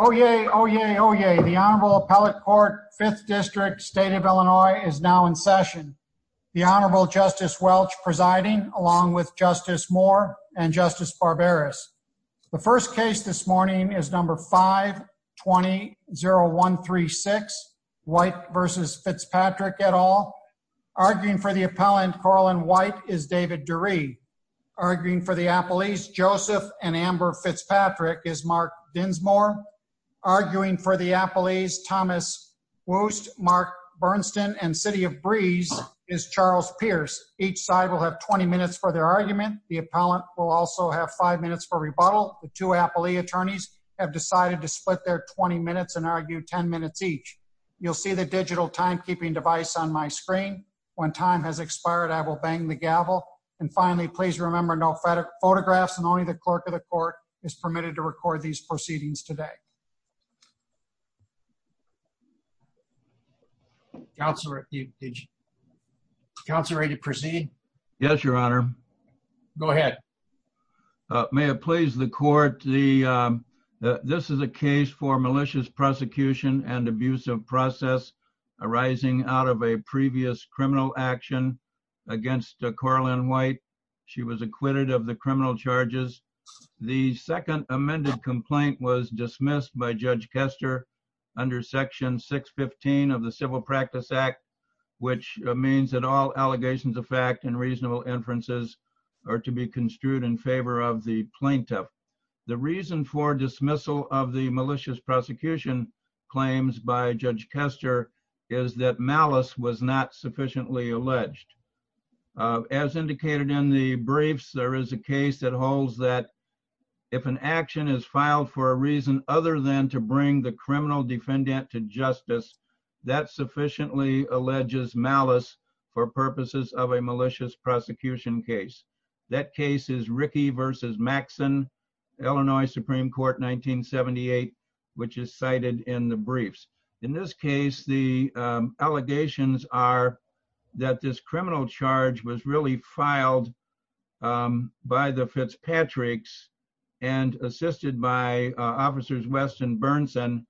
Oh, yay. Oh, yay. Oh, yay. The Honorable Appellate Court, 5th District, State of Illinois is now in session. The Honorable Justice Welch presiding, along with Justice Moore and Justice Barberis. The first case this morning is number 5-20-0136, White v. Fitzpatrick et al. Arguing for the appellant, Carlin White, is David Durie. Arguing for the appellees, Joseph and Amber Fitzpatrick, is Mark Dinsmore. Arguing for the appellees, Thomas Wuest, Mark Bernsten, and City of Breeze is Charles Pierce. Each side will have 20 minutes for their argument. The appellant will also have 5 minutes for rebuttal. The two appellee attorneys have decided to split their 20 minutes and argue 10 minutes each. You'll see the digital timekeeping device on my screen. When time has expired, I will bang the gavel. And finally, please remember no photographs and only the clerk of the court is permitted to record these proceedings today. Counselor, are you ready to proceed? Yes, Your Honor. Go ahead. May it please the court, this is a case for malicious prosecution and abusive process arising out of a previous criminal action against Carlin White. She was acquitted of the criminal charges. The second amended complaint was dismissed by Judge Kester under Section 615 of the Civil Practice Act, which means that all allegations of fact and reasonable inferences are to be construed in favor of the plaintiff. The reason for dismissal of the malicious prosecution claims by Judge Kester is that malice was not sufficiently alleged. As indicated in the briefs, there is a case that holds that if an action is filed for a reason other than to bring the criminal defendant to justice, that sufficiently alleges malice for purposes of a malicious prosecution case. That case is Rickey v. Maxson, Illinois Supreme Court, 1978, which is cited in the briefs. In this case, the allegations are that this criminal charge was really filed by the Fitzpatricks and assisted by Officers West and Bernson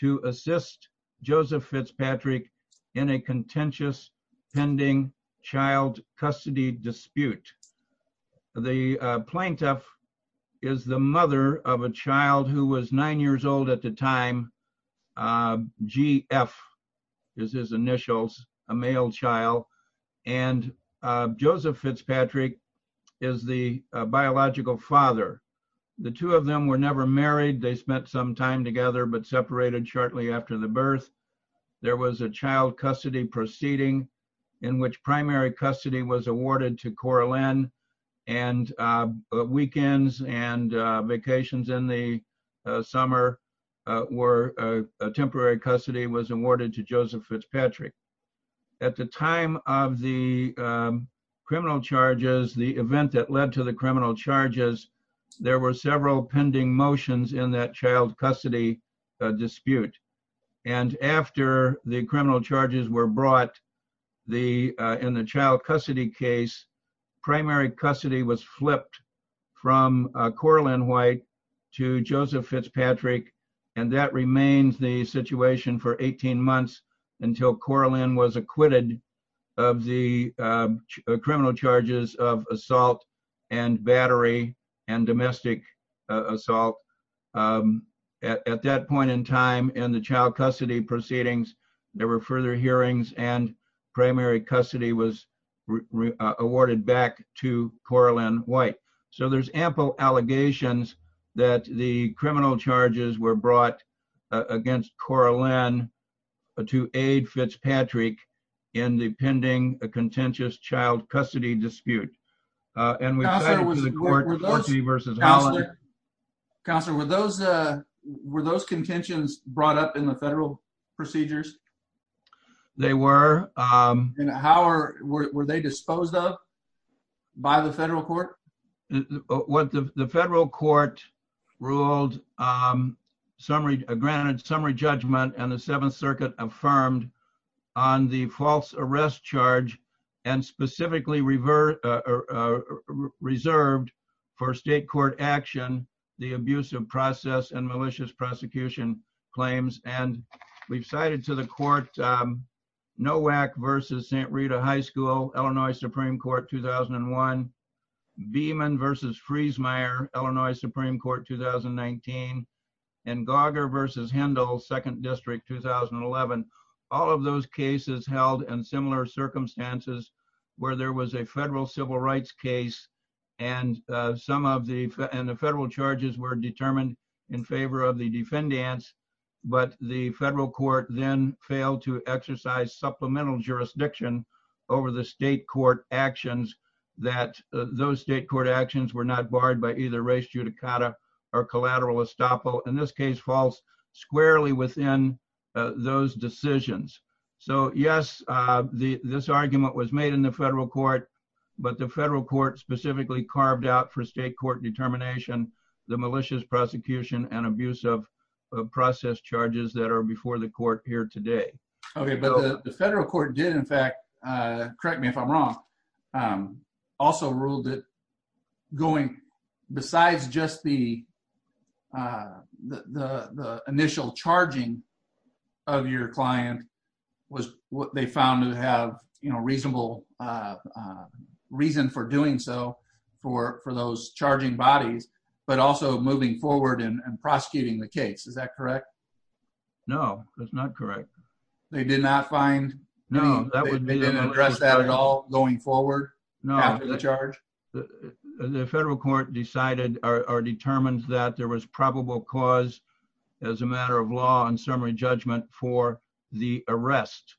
to assist Joseph Fitzpatrick in a contentious pending child custody dispute. The plaintiff is the mother of a child who was nine years old at the time, G.F. is his initials, a male child, and Joseph Fitzpatrick is the biological father. The two of them were never married. They spent some time together, but separated shortly after the birth. There was a child custody proceeding in which primary custody was awarded to Coraline, and weekends and vacations in the summer were temporary custody was awarded to Joseph Fitzpatrick. At the time of the criminal charges, the event that led to criminal charges, there were several pending motions in that child custody dispute. After the criminal charges were brought, in the child custody case, primary custody was flipped from Coraline White to Joseph Fitzpatrick. That remains the situation for 18 months until Coraline was acquitted of the criminal charges of assault and battery and domestic assault. At that point in time, in the child custody proceedings, there were further hearings and primary custody was awarded back to Coraline White. So there's ample allegations that the aid Fitzpatrick in the pending a contentious child custody dispute. Counselor, were those contentions brought up in the federal procedures? They were. Were they disposed of by the federal court? What the federal court ruled, granted summary judgment and the Seventh Circuit affirmed on the false arrest charge, and specifically reserved for state court action, the abusive process and malicious prosecution claims. We've cited to the court, NOAC versus St. Rita High School, Illinois Supreme Court, 2001. Beeman versus Friesmeier, Illinois Supreme Court, 2019. And Gauger versus Hendel, Second District, 2011. All of those cases held in similar circumstances where there was a federal civil rights case and the federal charges were determined in favor of the defendants. But the federal court then failed to exercise supplemental jurisdiction over the state court actions that those state court actions were not barred by either race judicata or collateral estoppel, in this case false, squarely within those decisions. So yes, this argument was made in the federal court, but the federal court specifically carved out for state court determination, the malicious prosecution and abusive process charges that are before the correct me if I'm wrong, also ruled that going besides just the initial charging of your client was what they found to have, you know, reasonable reason for doing so for those charging bodies, but also moving forward and prosecuting the case. Is that correct? No, that's not correct. They did not find, no, they didn't address that at all going forward after the charge? The federal court decided or determined that there was probable cause as a matter of law and summary judgment for the arrest,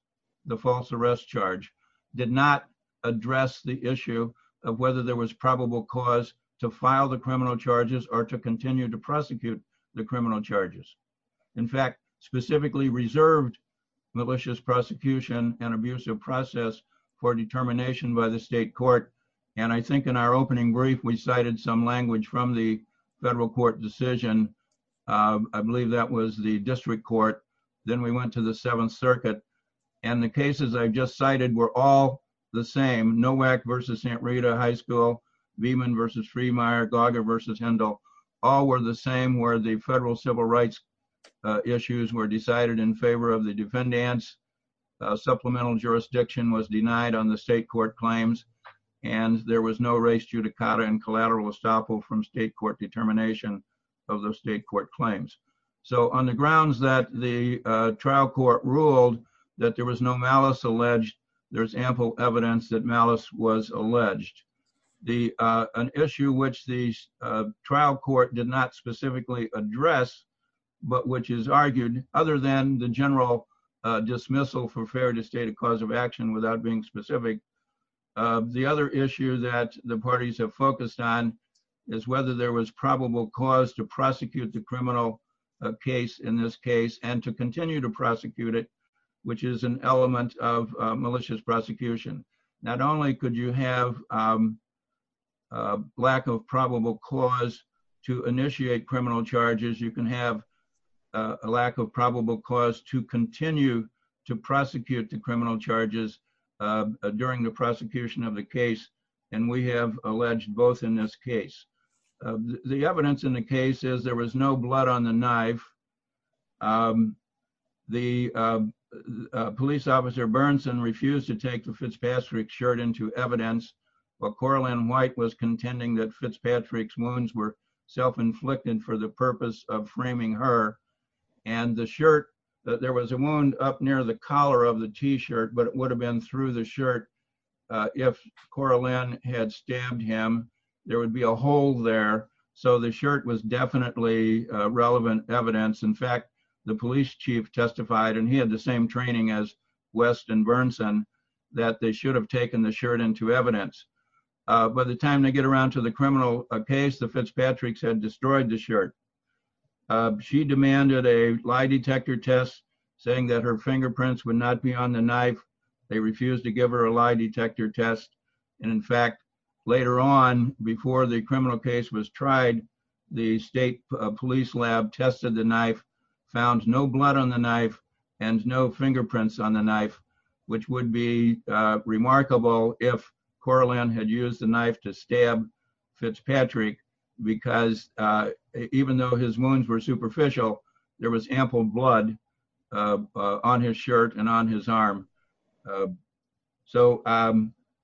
the false arrest charge, did not address the issue of whether there was probable cause to file the criminal charges or to continue to in fact, specifically reserved malicious prosecution and abusive process for determination by the state court. And I think in our opening brief, we cited some language from the federal court decision. I believe that was the district court. Then we went to the seventh circuit and the cases I've just cited were all the same. Nowak versus Santa Rita high school, Beeman versus Freemeyer, Gaga versus Hendel, all were the same where the federal civil rights issues were decided in favor of the defendants. Supplemental jurisdiction was denied on the state court claims, and there was no race judicata and collateral estoppel from state court determination of the state court claims. So on the grounds that the trial court ruled that there was no malice was alleged. An issue which the trial court did not specifically address, but which is argued other than the general dismissal for fair to state a cause of action without being specific. The other issue that the parties have focused on is whether there was probable cause to prosecute the criminal case in this case and to continue to prosecute it, which is an element of malicious prosecution. Not only could you have a lack of probable cause to initiate criminal charges, you can have a lack of probable cause to continue to prosecute the criminal charges during the prosecution of the case, and we have alleged both in this case. The evidence in the case is there was no blood on the knife. The police officer Bernson refused to take the Fitzpatrick shirt into evidence, but Coralyn White was contending that Fitzpatrick's wounds were self-inflicted for the purpose of framing her, and the shirt that there was a wound up near the collar of the t-shirt, but it would have been through the shirt if Coralyn had stabbed him. There would be a hole there, so the shirt was definitely relevant evidence. In fact, the police chief testified, and he had the same training as West and Bernson, that they should have taken the shirt into evidence. By the time they get around to the criminal case, the Fitzpatricks had destroyed the shirt. She demanded a lie detector test, saying that her fingerprints would not be on the knife. They refused to give her a lie detector test, and in fact, later on, before the criminal case was tried, the state police lab tested the knife, found no blood on the knife, and no fingerprints on the knife, which would be remarkable if Coralyn had used the knife to stab Fitzpatrick, because even though his wounds were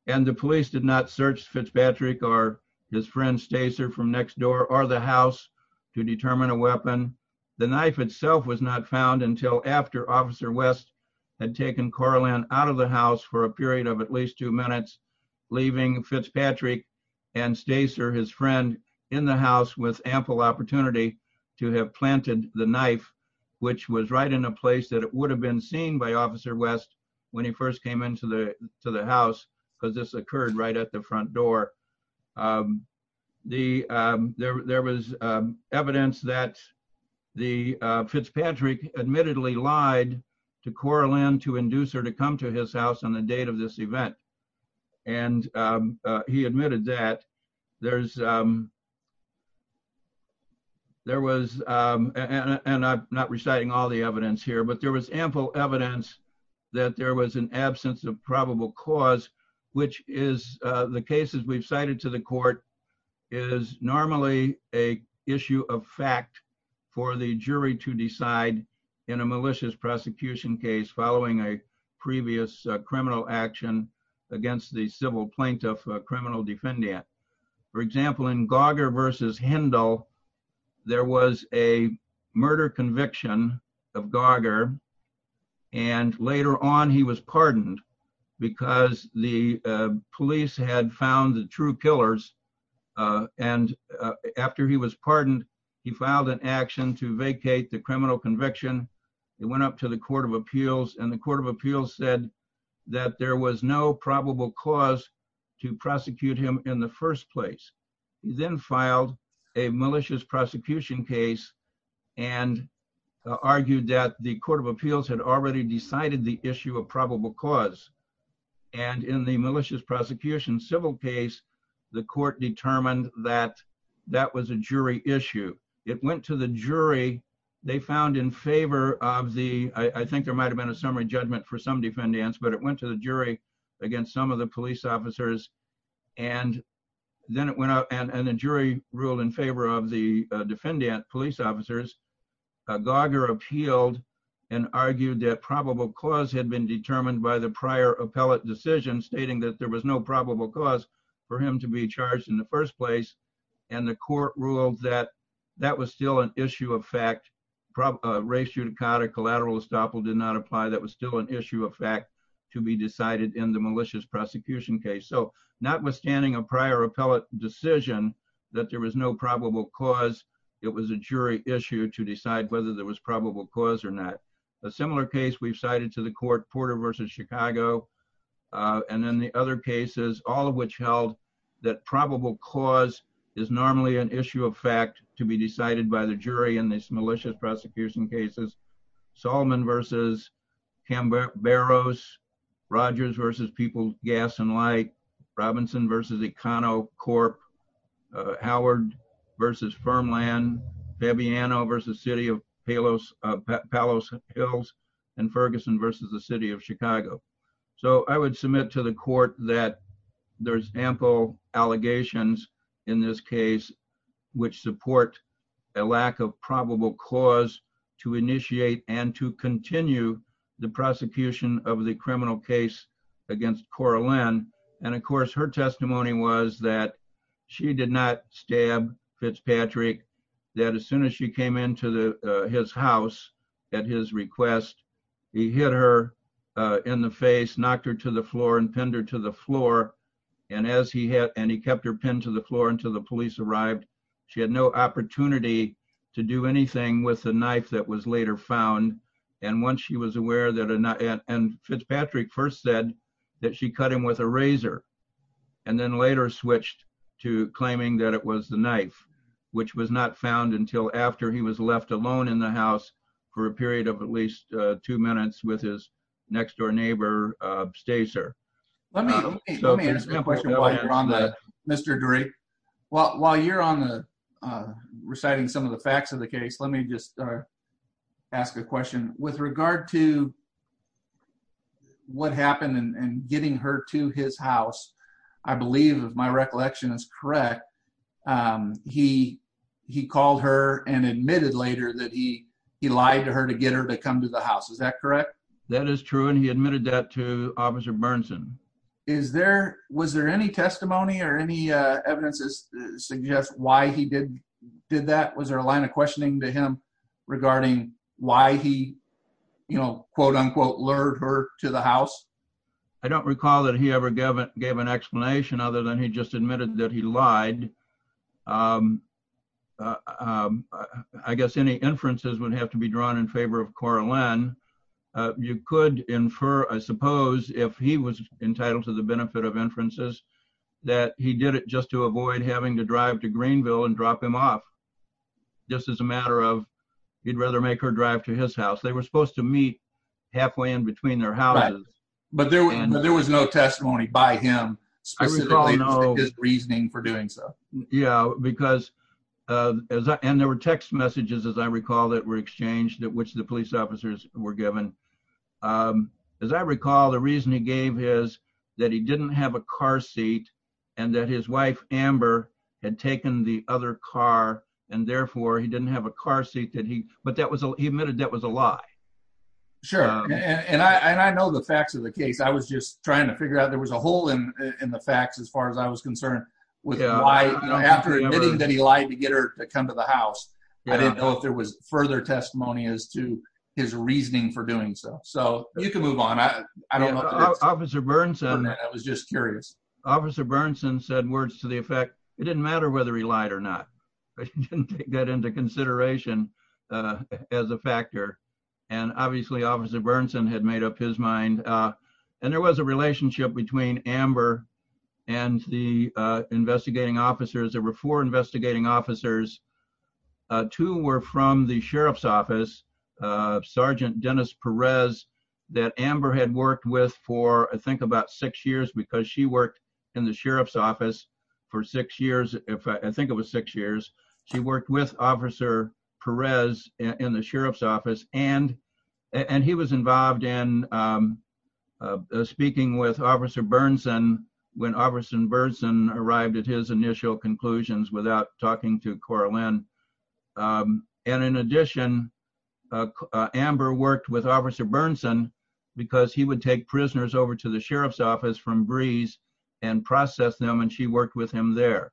and the police did not search Fitzpatrick or his friend Stacer from next door or the house to determine a weapon, the knife itself was not found until after Officer West had taken Coralyn out of the house for a period of at least two minutes, leaving Fitzpatrick and Stacer, his friend, in the house with ample opportunity to have planted the knife, which was right in a place that would have been seen by Officer West when he first came into the house, because this occurred right at the front door. There was evidence that Fitzpatrick admittedly lied to Coralyn to induce her to come to his house on the date of this event, and he admitted that. I'm not reciting all the evidence here, but there was ample evidence that there was an absence of probable cause, which is the cases we've cited to the court is normally a issue of fact for the jury to decide in a malicious prosecution case following a previous criminal action against the civil plaintiff, a criminal defendant. For example, in Gauger versus Hendel, there was a murder conviction of Gauger, and later on he was pardoned because the police had found the true killers, and after he was pardoned, he filed an action to vacate the criminal conviction. It went up to the court of appeals, and the court of appeals said that there was no probable cause to prosecute him in the first place. He then filed a malicious prosecution case and argued that the court of appeals had already decided the issue of probable cause, and in the malicious prosecution civil case, the court determined that that was a jury issue. It went to the jury. They found in favor of the, I think there might have been a summary judgment for some defendants, but it went to the jury against some of the police officers, and then it went out, and the jury ruled in favor of the defendant police officers. Gauger appealed and argued that probable cause had been determined by the prior appellate decision stating that there was no probable cause for him to be charged in the first place, and the court ruled that that was still an issue of fact. Race judicata collateral estoppel did not apply. That was still an issue of fact to be decided in the malicious prosecution case, so notwithstanding a prior appellate decision that there was no probable cause, it was a jury issue to decide whether there was probable cause or not. A similar case we've cited to the court, Porter versus Chicago, and then the other cases, all of which held that probable cause is normally an issue of fact to be decided by the jury in these malicious prosecution cases. Salmon versus Camberos, Rogers versus People's Gas and Light, Robinson versus EconoCorp, Howard versus Firmland, Fabiano versus City of Palos Hills, and Ferguson versus the City of Chicago. So I would submit to the court that there's ample allegations in this case which support a lack of probable cause to initiate and to continue the prosecution of the criminal case against Cora Lynn, and of course her testimony was that she did not stab Fitzpatrick, that as knocked her to the floor and pinned her to the floor, and he kept her pinned to the floor until the police arrived. She had no opportunity to do anything with the knife that was later found, and Fitzpatrick first said that she cut him with a razor, and then later switched to claiming that it was the knife, which was not found until after he was left alone in the house for a period of at least two minutes with his next-door neighbor Stacer. Let me ask you a question while you're on that, Mr. Drake. While you're on the reciting some of the facts of the case, let me just ask a question. With regard to what happened and getting her to his house, I believe if my recollection is correct, he called her and admitted later that he lied to her to get her to come to the house, is that correct? That is true, and he admitted that to Officer Bernson. Was there any testimony or any evidence that suggests why he did that? Was there a line of questioning to him regarding why he, you know, quote-unquote, lured her to the house? I don't recall that he ever gave an explanation other than he just admitted that he lied. I guess any inferences would have to be drawn in favor of Cora Lynn. You could infer, I suppose, if he was entitled to the benefit of inferences, that he did it just to avoid having to drive to Greenville and drop him off, just as a matter of he'd rather make her drive to his house. They were supposed to meet halfway in between their houses. But there was no testimony by him, specifically his reasoning for doing so. Yeah, because there were text messages, as I recall, that were exchanged, which the police officers were given. As I recall, the reason he gave is that he didn't have a car seat and that his wife, Amber, had taken the other car, and therefore he didn't have a car seat. But he admitted that was a lie. Sure, and I know the facts of the case. I was just trying to figure out there was a hole in the facts as far as I was concerned with why, you know, after admitting that he lied to get her to come to the house, I didn't know if there was further testimony as to his reasoning for doing so. So you can move on. I don't know. Officer Bernson, I was just curious, Officer Bernson said words to the effect, it didn't matter whether he lied or not, he didn't take that into consideration as a factor. And obviously, Officer Bernson had made up his mind. And there was a relationship between Amber and the investigating officers. There were four investigating officers. Two were from the Sheriff's Office, Sergeant Dennis Perez, that Amber had worked with for, I think, about six years because she worked in the Sheriff's She worked with Officer Perez in the Sheriff's Office, and he was involved in speaking with Officer Bernson when Officer Bernson arrived at his initial conclusions without talking to Coralyn. And in addition, Amber worked with Officer Bernson, because he would take prisoners over to the Sheriff's Office from Breeze and process them, and she worked with him there.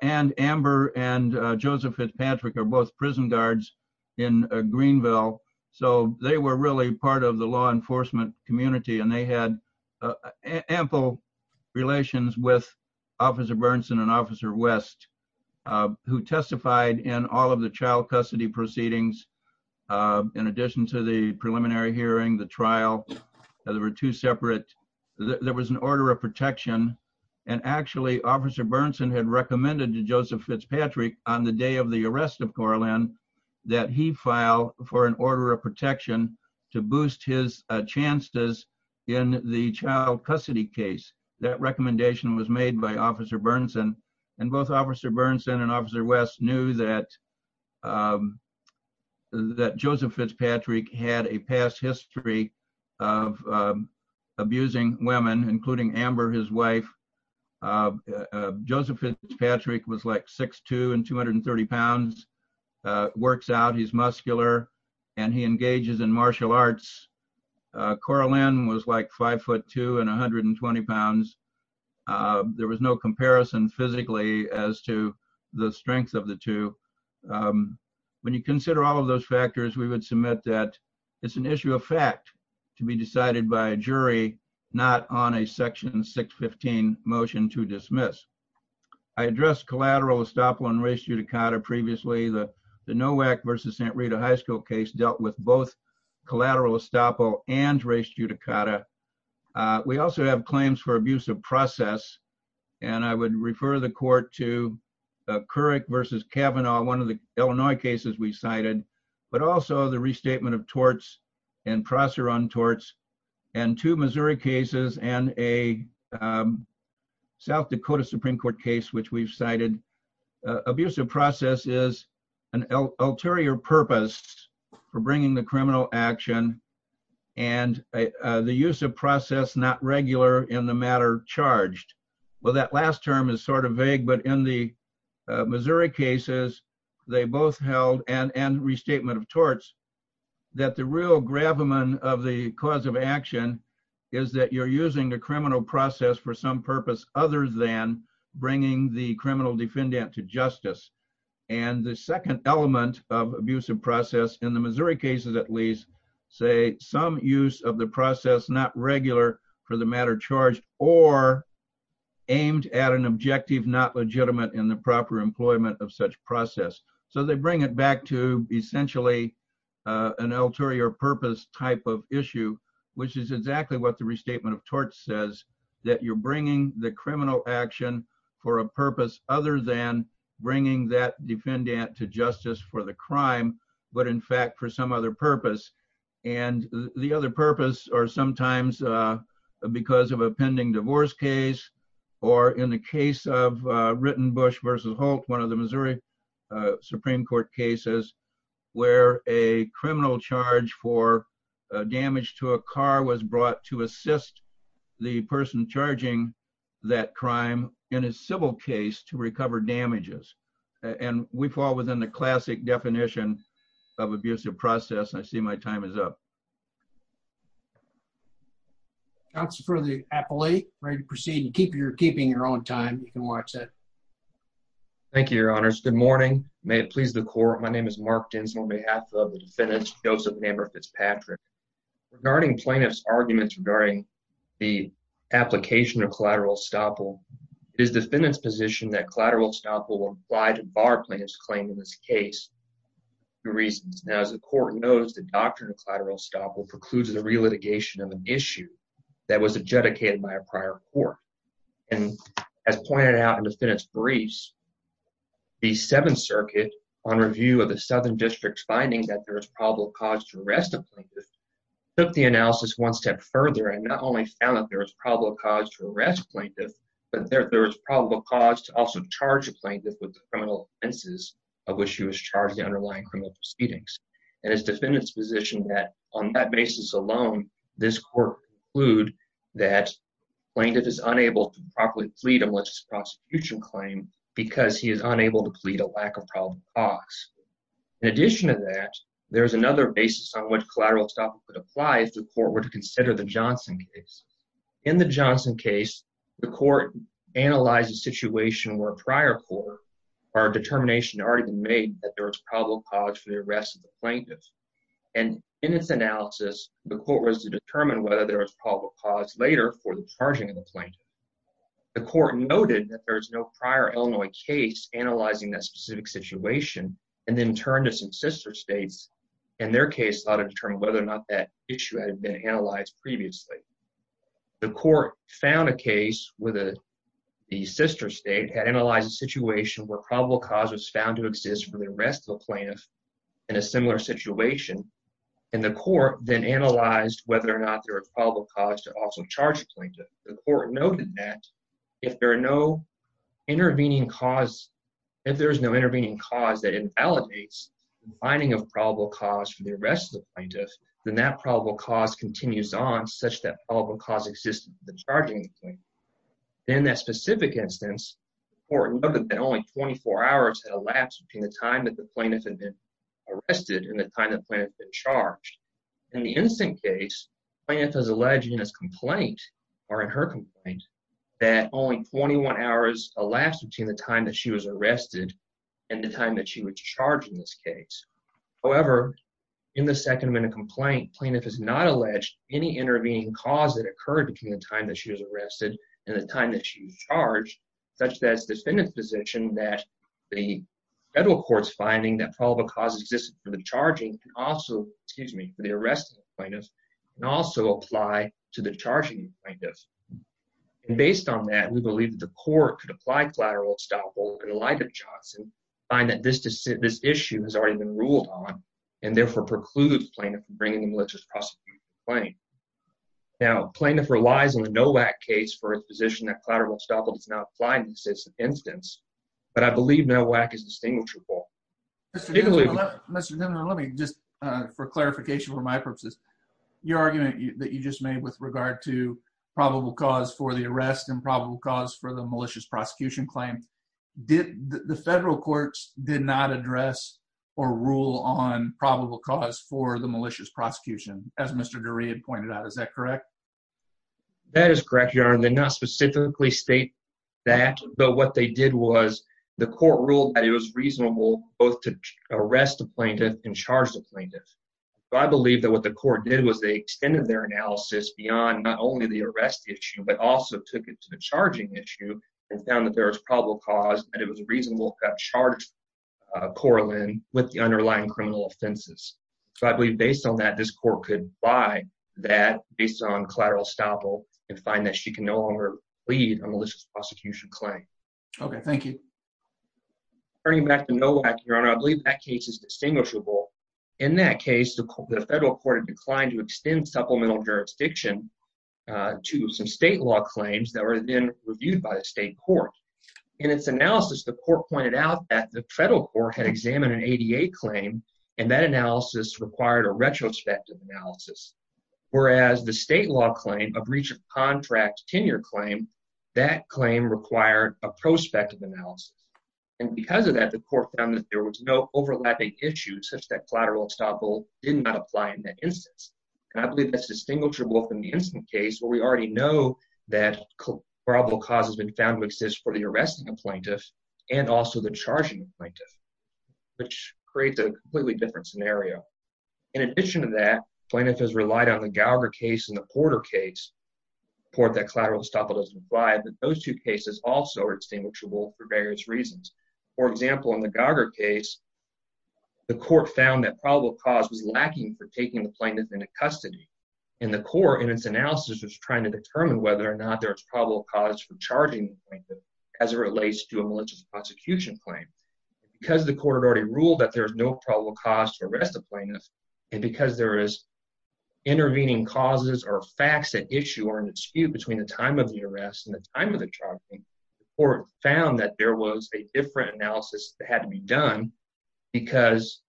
And Amber and Joseph Fitzpatrick are both prison guards in Greenville. So they were really part of the law enforcement community, and they had ample relations with Officer Bernson and Officer West, who testified in all of the child custody proceedings. In addition to the preliminary hearing, the trial, there were two separate, there was an order of protection. And actually, Officer Bernson had recommended to Joseph Fitzpatrick on the day of the arrest of Coralyn that he file for an order of protection to boost his chances in the child custody case. That recommendation was made by Officer Bernson. And both Officer Bernson and Officer West knew that Joseph Fitzpatrick had a past history of abusing women, including Amber, his wife, Joseph Fitzpatrick was like 6'2 and 230 pounds, works out, he's muscular, and he engages in martial arts. Coralyn was like 5'2 and 120 pounds. There was no comparison physically as to the strength of the two. When you consider all of those factors, we would submit that it's an issue of fact to be decided by a jury, not on a Section 615 motion to dismiss. I addressed collateral estoppel and res judicata previously. The Nowak v. St. Rita High School case dealt with both collateral estoppel and res judicata. We also have claims for abuse of process. And I would refer the court to Couric v. Kavanaugh, one of the Illinois cases we cited, but also the restatement of torts and processor on torts, and two Missouri cases and a South Dakota Supreme Court case, which we've cited. Abuse of process is an ulterior purpose for bringing the criminal action and the use of process not regular in the matter charged. Well, that last term is sort of vague, but in the Missouri cases, they both held, and restatement of torts, that the real gravamen of the cause of action is that you're using the criminal process for some purpose other than bringing the criminal defendant to justice. And the second element of abuse of process, in the Missouri cases at least, say some use of the process not regular for the matter charged, or aimed at an objective not legitimate in the proper employment of such process. So they bring it back to essentially an ulterior purpose type of issue, which is exactly what the restatement of torts says, that you're bringing the criminal action for a purpose other than bringing that defendant to justice for the crime, but in fact for some other purpose. And the other purpose or sometimes because of a pending divorce case, or in the case of Rittenbusch versus Holt, one of the Missouri Supreme Court cases, where a criminal charge for damage to a car was brought to assist the person charging that crime in a civil case to recover damages. And we fall within the classic definition of abusive process. I see my time is up. Counsel for the appellate, ready to proceed and keep your keeping your own time. You can watch it. Thank you, your honors. Good morning. May it please the court. My name is Mark Dins on behalf of the defendants, Joseph and Amber Fitzpatrick. Regarding plaintiff's arguments regarding the application of collateral estoppel, it is defendant's position that collateral estoppel will apply to bar plaintiff's claim in this case for two reasons. Now, as the court knows, the doctrine of collateral estoppel precludes the relitigation of an issue that was adjudicated by a prior court. And as pointed out in defendant's briefs, the Seventh Circuit, on review of the Southern District's finding that there is probable cause to arrest a plaintiff, took the analysis one step further and not only found that there is probable cause to arrest plaintiff, but there was criminal offenses of which he was charged in the underlying criminal proceedings. And as defendant's position that on that basis alone, this court conclude that plaintiff is unable to properly plead on what's his prosecution claim because he is unable to plead a lack of probable cause. In addition to that, there's another basis on what collateral estoppel could apply if the court were to consider the Johnson case. In the Johnson case, the court analyzed a situation where a prior court or a determination had already been made that there was probable cause for the arrest of the plaintiff. And in its analysis, the court was to determine whether there was probable cause later for the charging of the plaintiff. The court noted that there is no prior Illinois case analyzing that specific situation, and then turned to some sister states and their case ought to determine whether or not that issue had been analyzed previously. The court found a case where the sister state had analyzed a situation where probable cause was found to exist for the arrest of a plaintiff in a similar situation, and the court then analyzed whether or not there was probable cause to also charge a plaintiff. The court noted that if there are no intervening cause, if there is no intervening cause that invalidates the finding of probable cause for the arrest of the plaintiff, then that probable cause continues on such that probable cause existed for the charging of the plaintiff. In that specific instance, the court noted that only 24 hours had elapsed between the time that the plaintiff had been arrested and the time the plaintiff had been charged. In the instant case, the plaintiff has alleged in this complaint, or in her complaint, that only 21 hours elapsed between the time that she was arrested and the time that she was charged in this case. However, in the second minute complaint, plaintiff has not alleged any intervening cause that occurred between the time that she was arrested and the time that she was charged, such that it's defendant's position that the federal court's finding that probable cause existed for the arrest of the plaintiff can also apply to the charging of the plaintiff. Based on that, we believe that the court could apply collateral estoppel in the light of Johnson, find that this issue has already been ruled on, and therefore preclude the plaintiff from bringing a malicious prosecution complaint. Now, plaintiff relies on a NOAC case for a position that collateral estoppel does not apply in this instance, but I believe NOAC is distinguishable. Mr. Dimond, let me just, for clarification for my purposes, your argument that you just made with regard to for the malicious prosecution claim, the federal courts did not address or rule on probable cause for the malicious prosecution, as Mr. Dury had pointed out. Is that correct? That is correct, Your Honor. They did not specifically state that, but what they did was the court ruled that it was reasonable both to arrest the plaintiff and charge the plaintiff. So I believe that what the court did was they extended their analysis beyond not only the charging issue and found that there was probable cause, but it was reasonable to have charged Coraline with the underlying criminal offenses. So I believe based on that, this court could buy that based on collateral estoppel and find that she can no longer lead a malicious prosecution claim. Okay. Thank you. Turning back to NOAC, Your Honor, I believe that case is distinguishable. In that case, the federal court had declined to extend supplemental jurisdiction to some state law claims that were then reviewed by the state court. In its analysis, the court pointed out that the federal court had examined an ADA claim and that analysis required a retrospective analysis, whereas the state law claim, a breach of contract tenure claim, that claim required a prospective analysis. And because of that, the court found that there was no overlapping issues such that collateral estoppel did not apply in that instance. And I believe that's distinguishable from the incident case where we already know that probable cause has been found to exist for the arresting plaintiff and also the charging plaintiff, which creates a completely different scenario. In addition to that, plaintiff has relied on the Gallagher case and the Porter case report that collateral estoppel doesn't apply, but those two cases also are distinguishable for various reasons. For example, in the Gallagher case, the court found that probable cause was lacking for taking the plaintiff into custody. And the court, in its analysis, was trying to determine whether or not there was probable cause for charging the plaintiff as it relates to a malicious prosecution claim. Because the court had already ruled that there is no probable cause to arrest the plaintiff, and because there is intervening causes or facts at issue or an dispute between the time of the arrest and the charging, the court found that there was a different analysis that had to be done because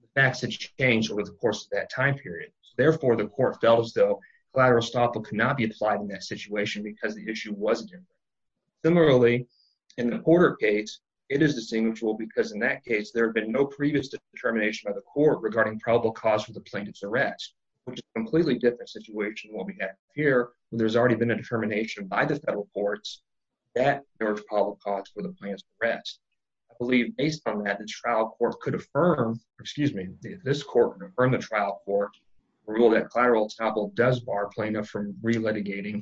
the facts had changed over the course of that time period. Therefore, the court felt as though collateral estoppel could not be applied in that situation because the issue wasn't in there. Similarly, in the Porter case, it is distinguishable because in that case, there had been no previous determination by the court regarding probable cause for the plaintiff's arrest, which is a completely different situation than what we have here where there's already been determination by the federal courts that there was probable cause for the plaintiff's arrest. I believe based on that, the trial court could affirm, excuse me, this court could affirm the trial court rule that collateral estoppel does bar plaintiff from re-litigating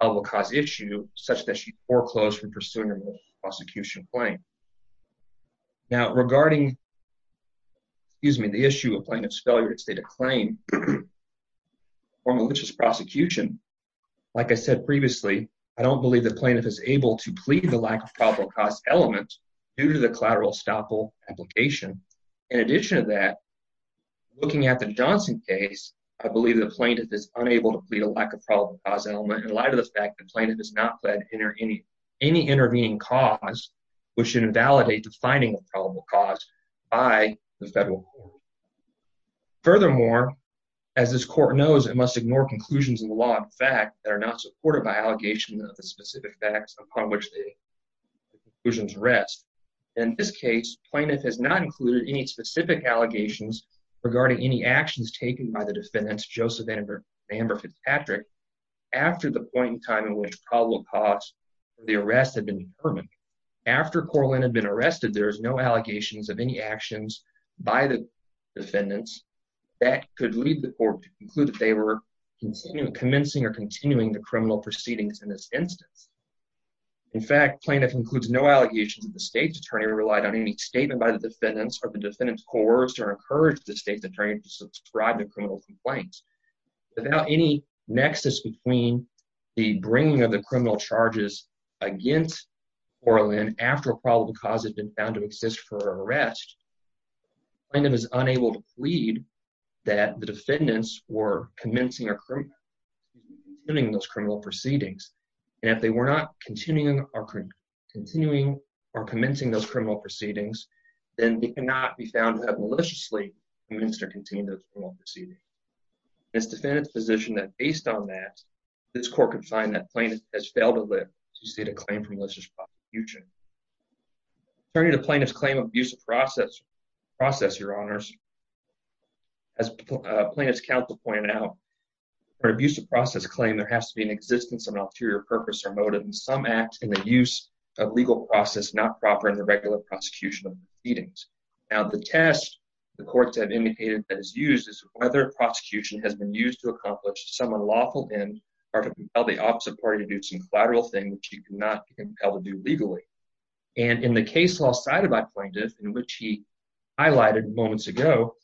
a probable cause issue such that she foreclosed from pursuing a prosecution claim. Now, regarding, excuse me, the issue of plaintiff's failure to state a claim or malicious prosecution, like I said previously, I don't believe the plaintiff is able to plead the lack of probable cause element due to the collateral estoppel application. In addition to that, looking at the Johnson case, I believe the plaintiff is unable to plead a lack of probable cause element in light of the fact the plaintiff has not pled any intervening cause which should invalidate the finding of probable cause by the court. Furthermore, as this court knows, it must ignore conclusions in the law of fact that are not supported by allegation of the specific facts upon which the conclusions rest. In this case, plaintiff has not included any specific allegations regarding any actions taken by the defendant's Joseph Amber Fitzpatrick after the point in time in which probable cause for the arrest had been determined. After Coraline had been arrested, there is no allegations of any actions by the defendants that could lead the court to conclude that they were commencing or continuing the criminal proceedings in this instance. In fact, plaintiff includes no allegations that the state's attorney relied on any statement by the defendants or the defendants coerced or encouraged the state's attorney to subscribe to criminal complaints. Without any nexus between the bringing of the criminal charges against Coraline after probable cause had been found to exist for her arrest, plaintiff is unable to plead that the defendants were commencing or continuing those criminal proceedings. And if they were not continuing or commencing those criminal proceedings, then they cannot be found to have maliciously commenced or continued those criminal proceedings. This defendant's position that based on that, this court could find that plaintiff has failed to live to state a claim for malicious prosecution. Attorney to plaintiff's process, your honors, as plaintiff's counsel pointed out, for abusive process claim, there has to be an existence of an ulterior purpose or motive in some act in the use of legal process not proper in the regular prosecution of proceedings. Now the test the courts have indicated that is used is whether prosecution has been used to accomplish some unlawful end or to compel the opposite party to do some collateral thing which you cannot compel to do in which he highlighted moments ago.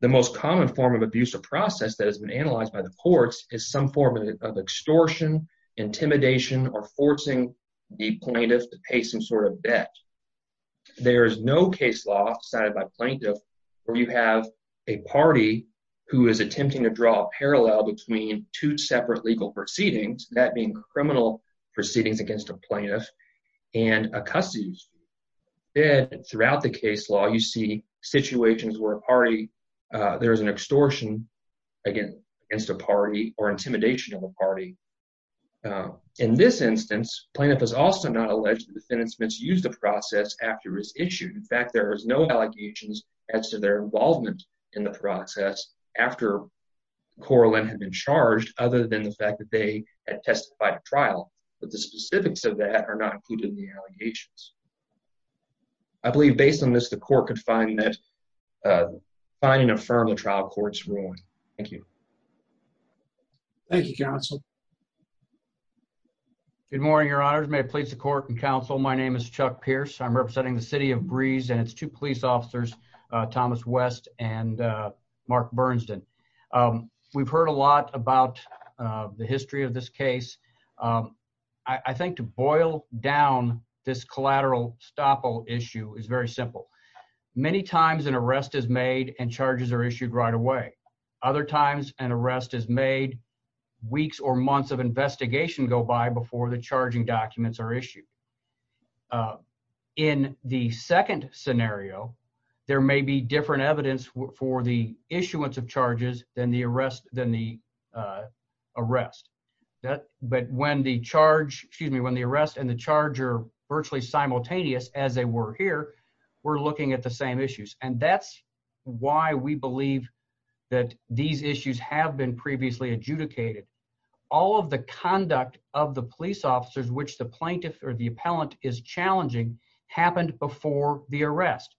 The most common form of abusive process that has been analyzed by the courts is some form of extortion, intimidation or forcing the plaintiff to pay some sort of debt. There is no case law decided by plaintiff where you have a party who is attempting to draw a parallel between two separate legal proceedings, that being criminal proceedings against a plaintiff and a custody dispute. Then throughout the case law you see situations where a party, there is an extortion against a party or intimidation of a party. In this instance, plaintiff is also not alleged the defendants must use the process after it's issued. In fact, there is no allegations as to their involvement in the process after Coraline had been charged other than the fact that they had testified at trial, but the specifics of that are not included in the allegations. I believe based on this, the court could find that finding a firm trial court's ruling. Thank you. Thank you, counsel. Good morning, your honors. May it please the court and counsel. My name is Chuck Pierce. I'm representing the city of Breeze and its two police the history of this case. I think to boil down this collateral stop all issue is very simple. Many times an arrest is made and charges are issued right away. Other times an arrest is made, weeks or months of investigation go by before the charging documents are issued. In the second scenario, there may be different evidence for the issuance of charges than the than the arrest. But when the charge, excuse me, when the arrest and the charge are virtually simultaneous as they were here, we're looking at the same issues. And that's why we believe that these issues have been previously adjudicated. All of the conduct of the police officers, which the plaintiff or the appellant is challenging, happened before the arrest.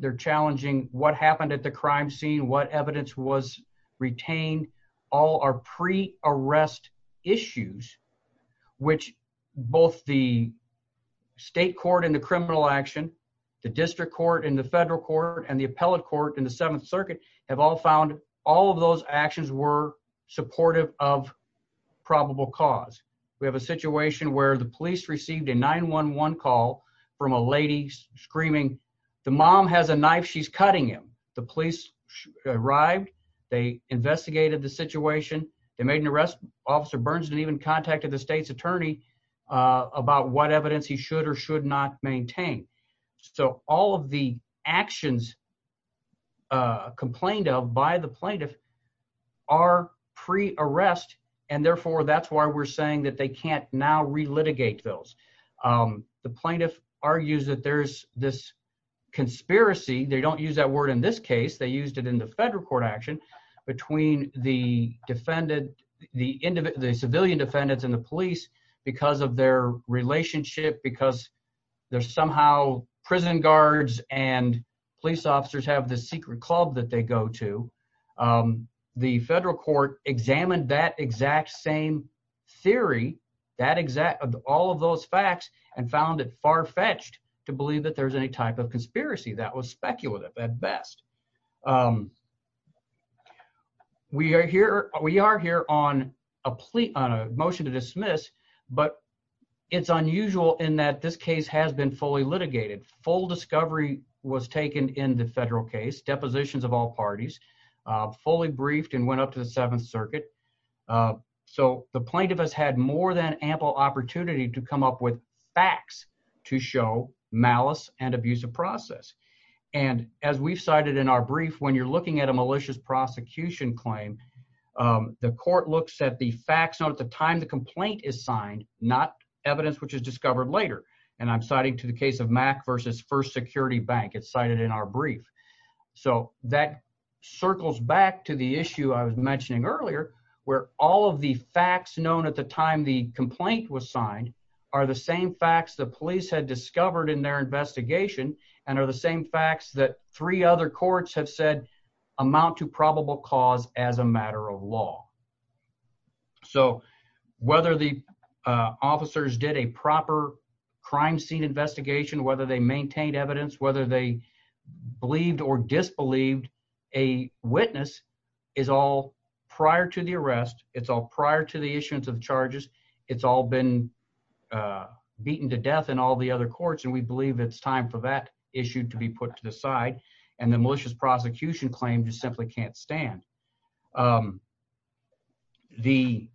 They're challenging what happened at the crime scene, what evidence was retained. All are pre-arrest issues, which both the state court and the criminal action, the district court and the federal court and the appellate court in the seventh circuit have all found all of those actions were supportive of probable cause. We have a situation where the mom has a knife, she's cutting him. The police arrived, they investigated the situation, they made an arrest. Officer Burns didn't even contact the state's attorney about what evidence he should or should not maintain. So all of the actions complained of by the plaintiff are pre-arrest, and therefore that's why we're saying that they can't now relitigate those. The plaintiff argues that there's this conspiracy, they don't use that word in this case, they used it in the federal court action between the civilian defendants and the police because of their relationship, because there's somehow prison guards and police officers have this secret club that they go to. The federal court examined that exact same theory, all of those facts and found it far-fetched to believe that there's any type of conspiracy that was speculative at best. We are here on a motion to dismiss, but it's unusual in that this case has been fully litigated. Full discovery was taken in the federal case, depositions of all parties, fully briefed and went up to the seventh circuit. So the plaintiff has had more than ample opportunity to come up with facts to show malice and abuse of process. And as we've cited in our brief, when you're looking at a malicious prosecution claim, the court looks at the facts known at the time the complaint is signed, not evidence which is discovered later. And I'm citing to the case of Mack versus First Security Bank. It's cited in our brief. So that circles back to the issue I was mentioning earlier, where all of the facts known at the time the complaint was signed are the same facts the police had discovered in their investigation and are the same facts that three other courts have said amount to probable cause as a matter of law. So whether the officers did a proper crime scene investigation, whether they maintained evidence, whether they believed or disbelieved a witness is all prior to the arrest. It's all prior to the issuance of charges. It's all been beaten to death in all the other courts. And we believe it's time for that issue to be put to the side. And the malicious prosecution claim just simply can't stand. Um, the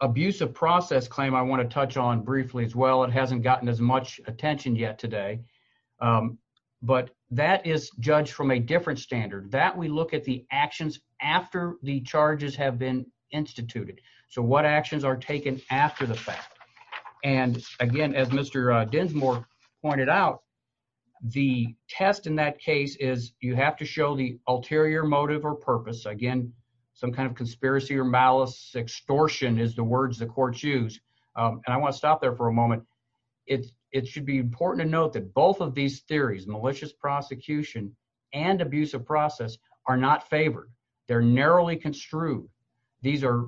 abusive process claim I want to touch on briefly as well. It hasn't gotten as much attention yet today. Um, but that is judged from a different standard that we look at the actions after the charges have been instituted. So what actions are taken after the fact? And again, as Mr. Dinsmore pointed out, the test in that case is you have to show the ulterior motive or purpose again, some kind of conspiracy or malice extortion is the words the courts use. And I want to stop there for a moment. It's it should be important to note that both of these theories, malicious prosecution and abusive process are not favored. They're narrowly construed. These are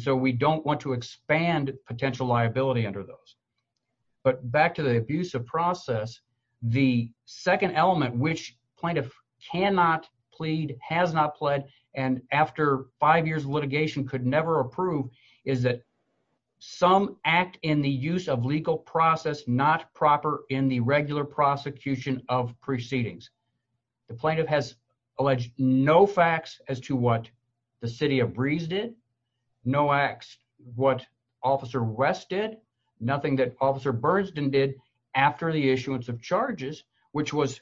to expand potential liability under those. But back to the abusive process, the second element, which plaintiff cannot plead, has not pled and after five years litigation could never approve is that some act in the use of legal process, not proper in the regular prosecution of proceedings. The plaintiff has alleged no facts as to what the city of breeze did no acts. What officer West did nothing that officer Burns didn't did after the issuance of charges, which was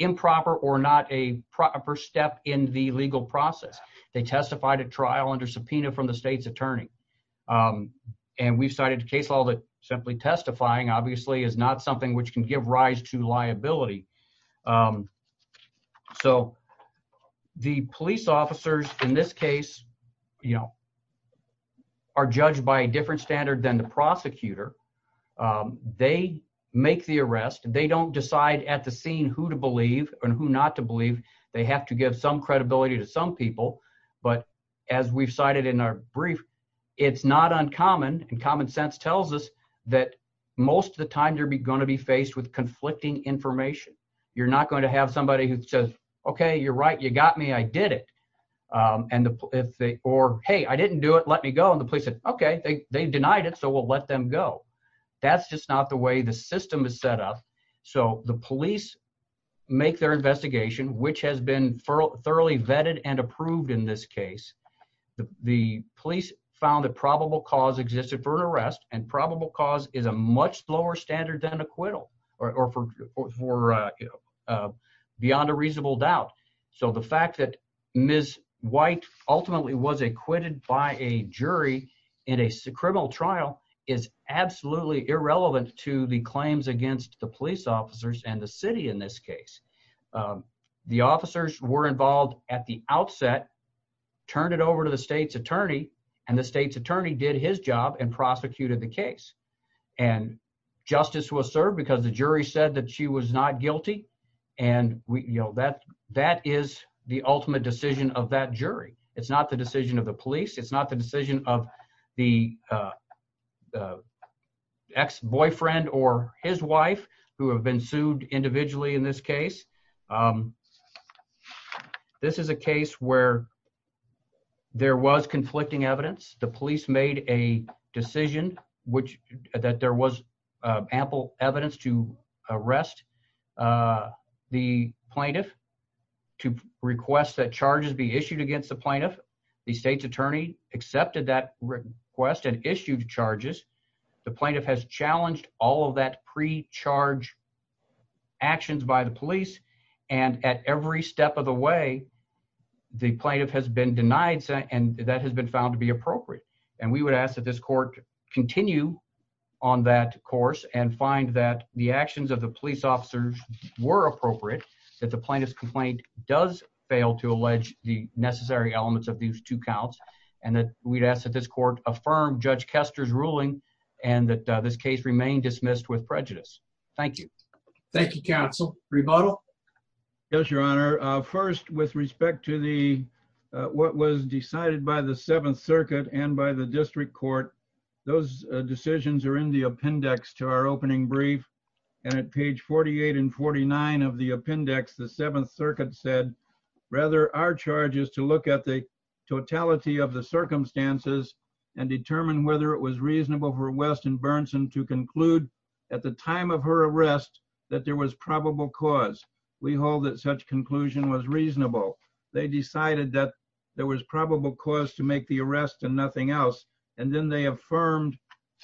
improper or not a proper step in the legal process. They testified at trial under subpoena from the state's attorney. Um, and we've cited a case law that simply testifying obviously is not something which can give rise to liability. Um, so the police officers in this case, you know, are judged by a different standard than the prosecutor. Um, they make the arrest and they don't decide at the scene who to believe and who not to believe they have to give some credibility to some people. But as we've cited in our brief, it's not uncommon. And common sense tells us that most of the time there'd be going to be faced with conflicting information. You're not going to have somebody who says, okay, you're right. You got me. I did it. Um, and the, if they, or, Hey, I didn't do it, let me go. And the police said, okay, they denied it. So we'll let them go. That's just not the way the system is set up. So the police make their investigation, which has been thoroughly vetted and approved in this case, the police found that probable cause existed for an arrest and probable cause is a much lower standard than acquittal or, or for, for, uh, uh, beyond a reasonable doubt. So the fact that Ms. White ultimately was acquitted by a jury in a criminal trial is absolutely irrelevant to the claims against the police officers and the city. In this case, um, the officers were involved at the outset, turned it over to the state's attorney and the state's attorney did his job and prosecuted the case and justice was served because the jury said that she was not guilty. And we, you know, that, that is the ultimate decision of that jury. It's not the decision of the police. It's not the decision of the, uh, uh, ex boyfriend or his wife who have been sued individually in this case. Um, this is a case where there was conflicting evidence. The police made a decision, which that there was ample evidence to arrest, uh, the plaintiff to request that charges be issued against the plaintiff. The state's attorney accepted that request and issued charges. The plaintiff has challenged all of that pre charge actions by the police. And at every step of the way, the plaintiff has been denied and that has been found to be appropriate. And we would ask that this court continue on that course and find that the actions of the police officers were appropriate, that the plaintiff's complaint does fail to allege the necessary elements of these two counts and that we'd ask that this court affirmed Judge Kester's ruling and that this case remained dismissed with prejudice. Thank you. Thank you. Council rebuttal. Yes, your honor. First, with respect to the, what was decided by the seventh circuit and by the district court, those decisions are in the rather our charges to look at the totality of the circumstances and determine whether it was reasonable for Weston Burnson to conclude at the time of her arrest that there was probable cause. We hold that such conclusion was reasonable. They decided that there was probable cause to make the arrest and nothing else. And then they affirmed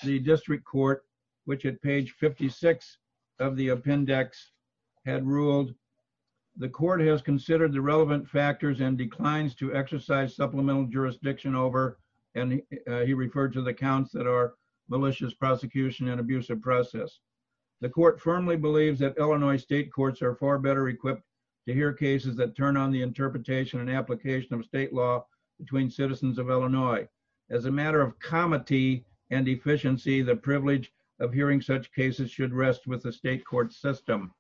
the district court, which at page 56 of the appendix had ruled the court has considered the relevant factors and declines to exercise supplemental jurisdiction over. And he referred to the counts that are malicious prosecution and abusive process. The court firmly believes that Illinois state courts are far better equipped to hear cases that turn on the interpretation and application of state law between citizens of Illinois. As a matter of comity and efficiency, the privilege of hearing such cases should rest with the state court system.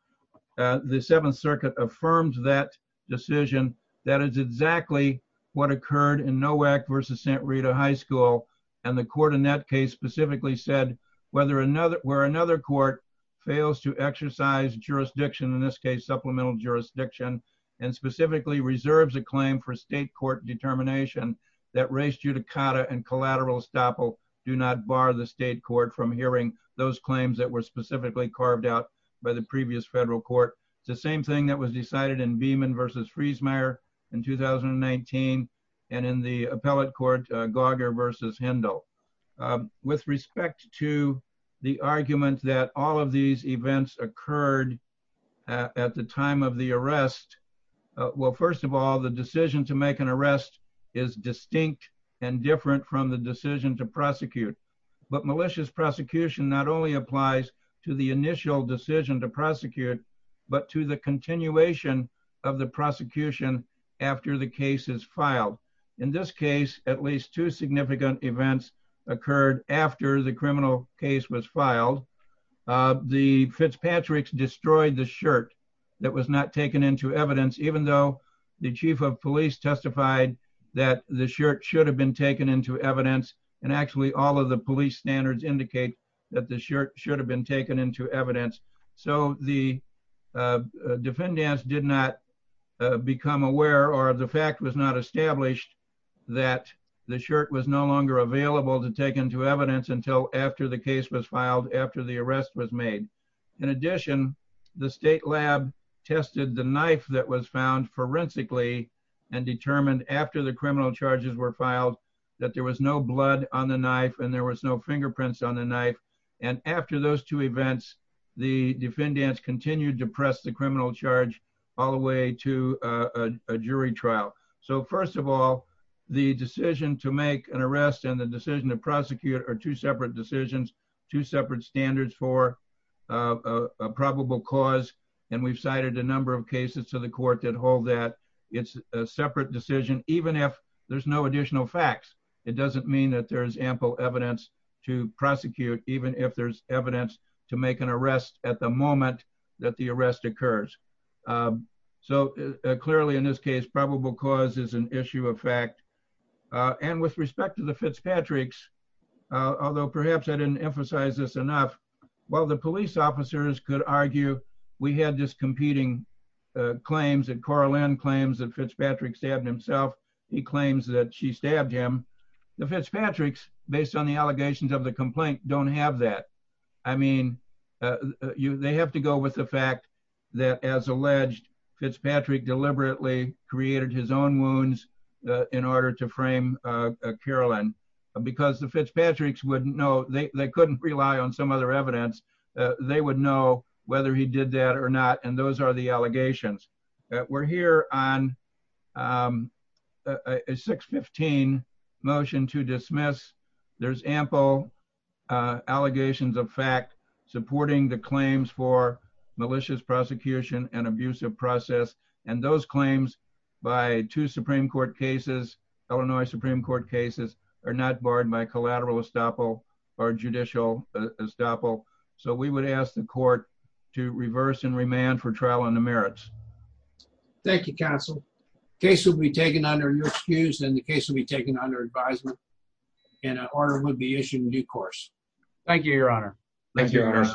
The seventh circuit affirmed that decision. That is exactly what occurred in NOAC versus Santa Rita high school. And the court in that case specifically said, whether another, where another court fails to exercise jurisdiction in this case, supplemental jurisdiction, and specifically reserves a claim for state court determination that race, judicata and collateral estoppel do not bar the state court from hearing those claims that were made by the previous federal court. The same thing that was decided in Beeman versus Friesmeier in 2019 and in the appellate court, Gauger versus Hendel. With respect to the argument that all of these events occurred at the time of the arrest, well, first of all, the decision to make an arrest is distinct and different from the decision to prosecute. But malicious prosecution not only applies to the initial decision to prosecute, but to the continuation of the prosecution after the case is filed. In this case, at least two significant events occurred after the criminal case was filed. The Fitzpatrick's destroyed the shirt that was not taken into evidence, even though the chief of police testified that the shirt should have been taken into evidence. And actually, all of the police standards indicate that the shirt should have been taken into evidence. So the defendants did not become aware, or the fact was not established, that the shirt was no longer available to take into evidence until after the case was filed, after the arrest was made. In addition, the state lab tested the knife that was found forensically and determined after the criminal charges were filed that there was no blood on the knife and there was no fingerprints on the knife. And after those two events, the defendants continued to press the criminal charge all the way to a jury trial. So first of all, the decision to make an arrest and the decision to prosecute are two separate decisions, two separate standards for a probable cause. And we've cited a number of cases to the court that hold that it's a separate decision, even if there's no additional facts. It doesn't mean that there's ample evidence to prosecute, even if there's evidence to make an arrest at the moment that the arrest occurs. So clearly in this case, probable cause is an issue of fact. And with respect to the Fitzpatrick's, although perhaps I didn't emphasize this enough, while the police officers could argue, we had this competing claims that Coraline claims that Fitzpatrick stabbed himself. He claims that she stabbed him. The Fitzpatrick's, based on the allegations of the complaint, don't have that. I mean, they have to go with the fact that as alleged, Fitzpatrick deliberately created his own wounds in order to frame Caroline. Because the Fitzpatrick's wouldn't know, they couldn't rely on some other evidence. They would know whether he did that or not. And those are the allegations. We're here on a 615 motion to dismiss. There's ample allegations of fact supporting the claims for malicious prosecution and abusive process. And those claims by two Supreme Court cases, Illinois Supreme Court cases, are not barred by collateral estoppel or judicial estoppel. So we would ask the court to reverse and remand for trial on the merits. Thank you, counsel. Case will be taken under your excuse and the case will be taken under advisement and an order would be issued in due course. Thank you, your honor. Thank you, your honor.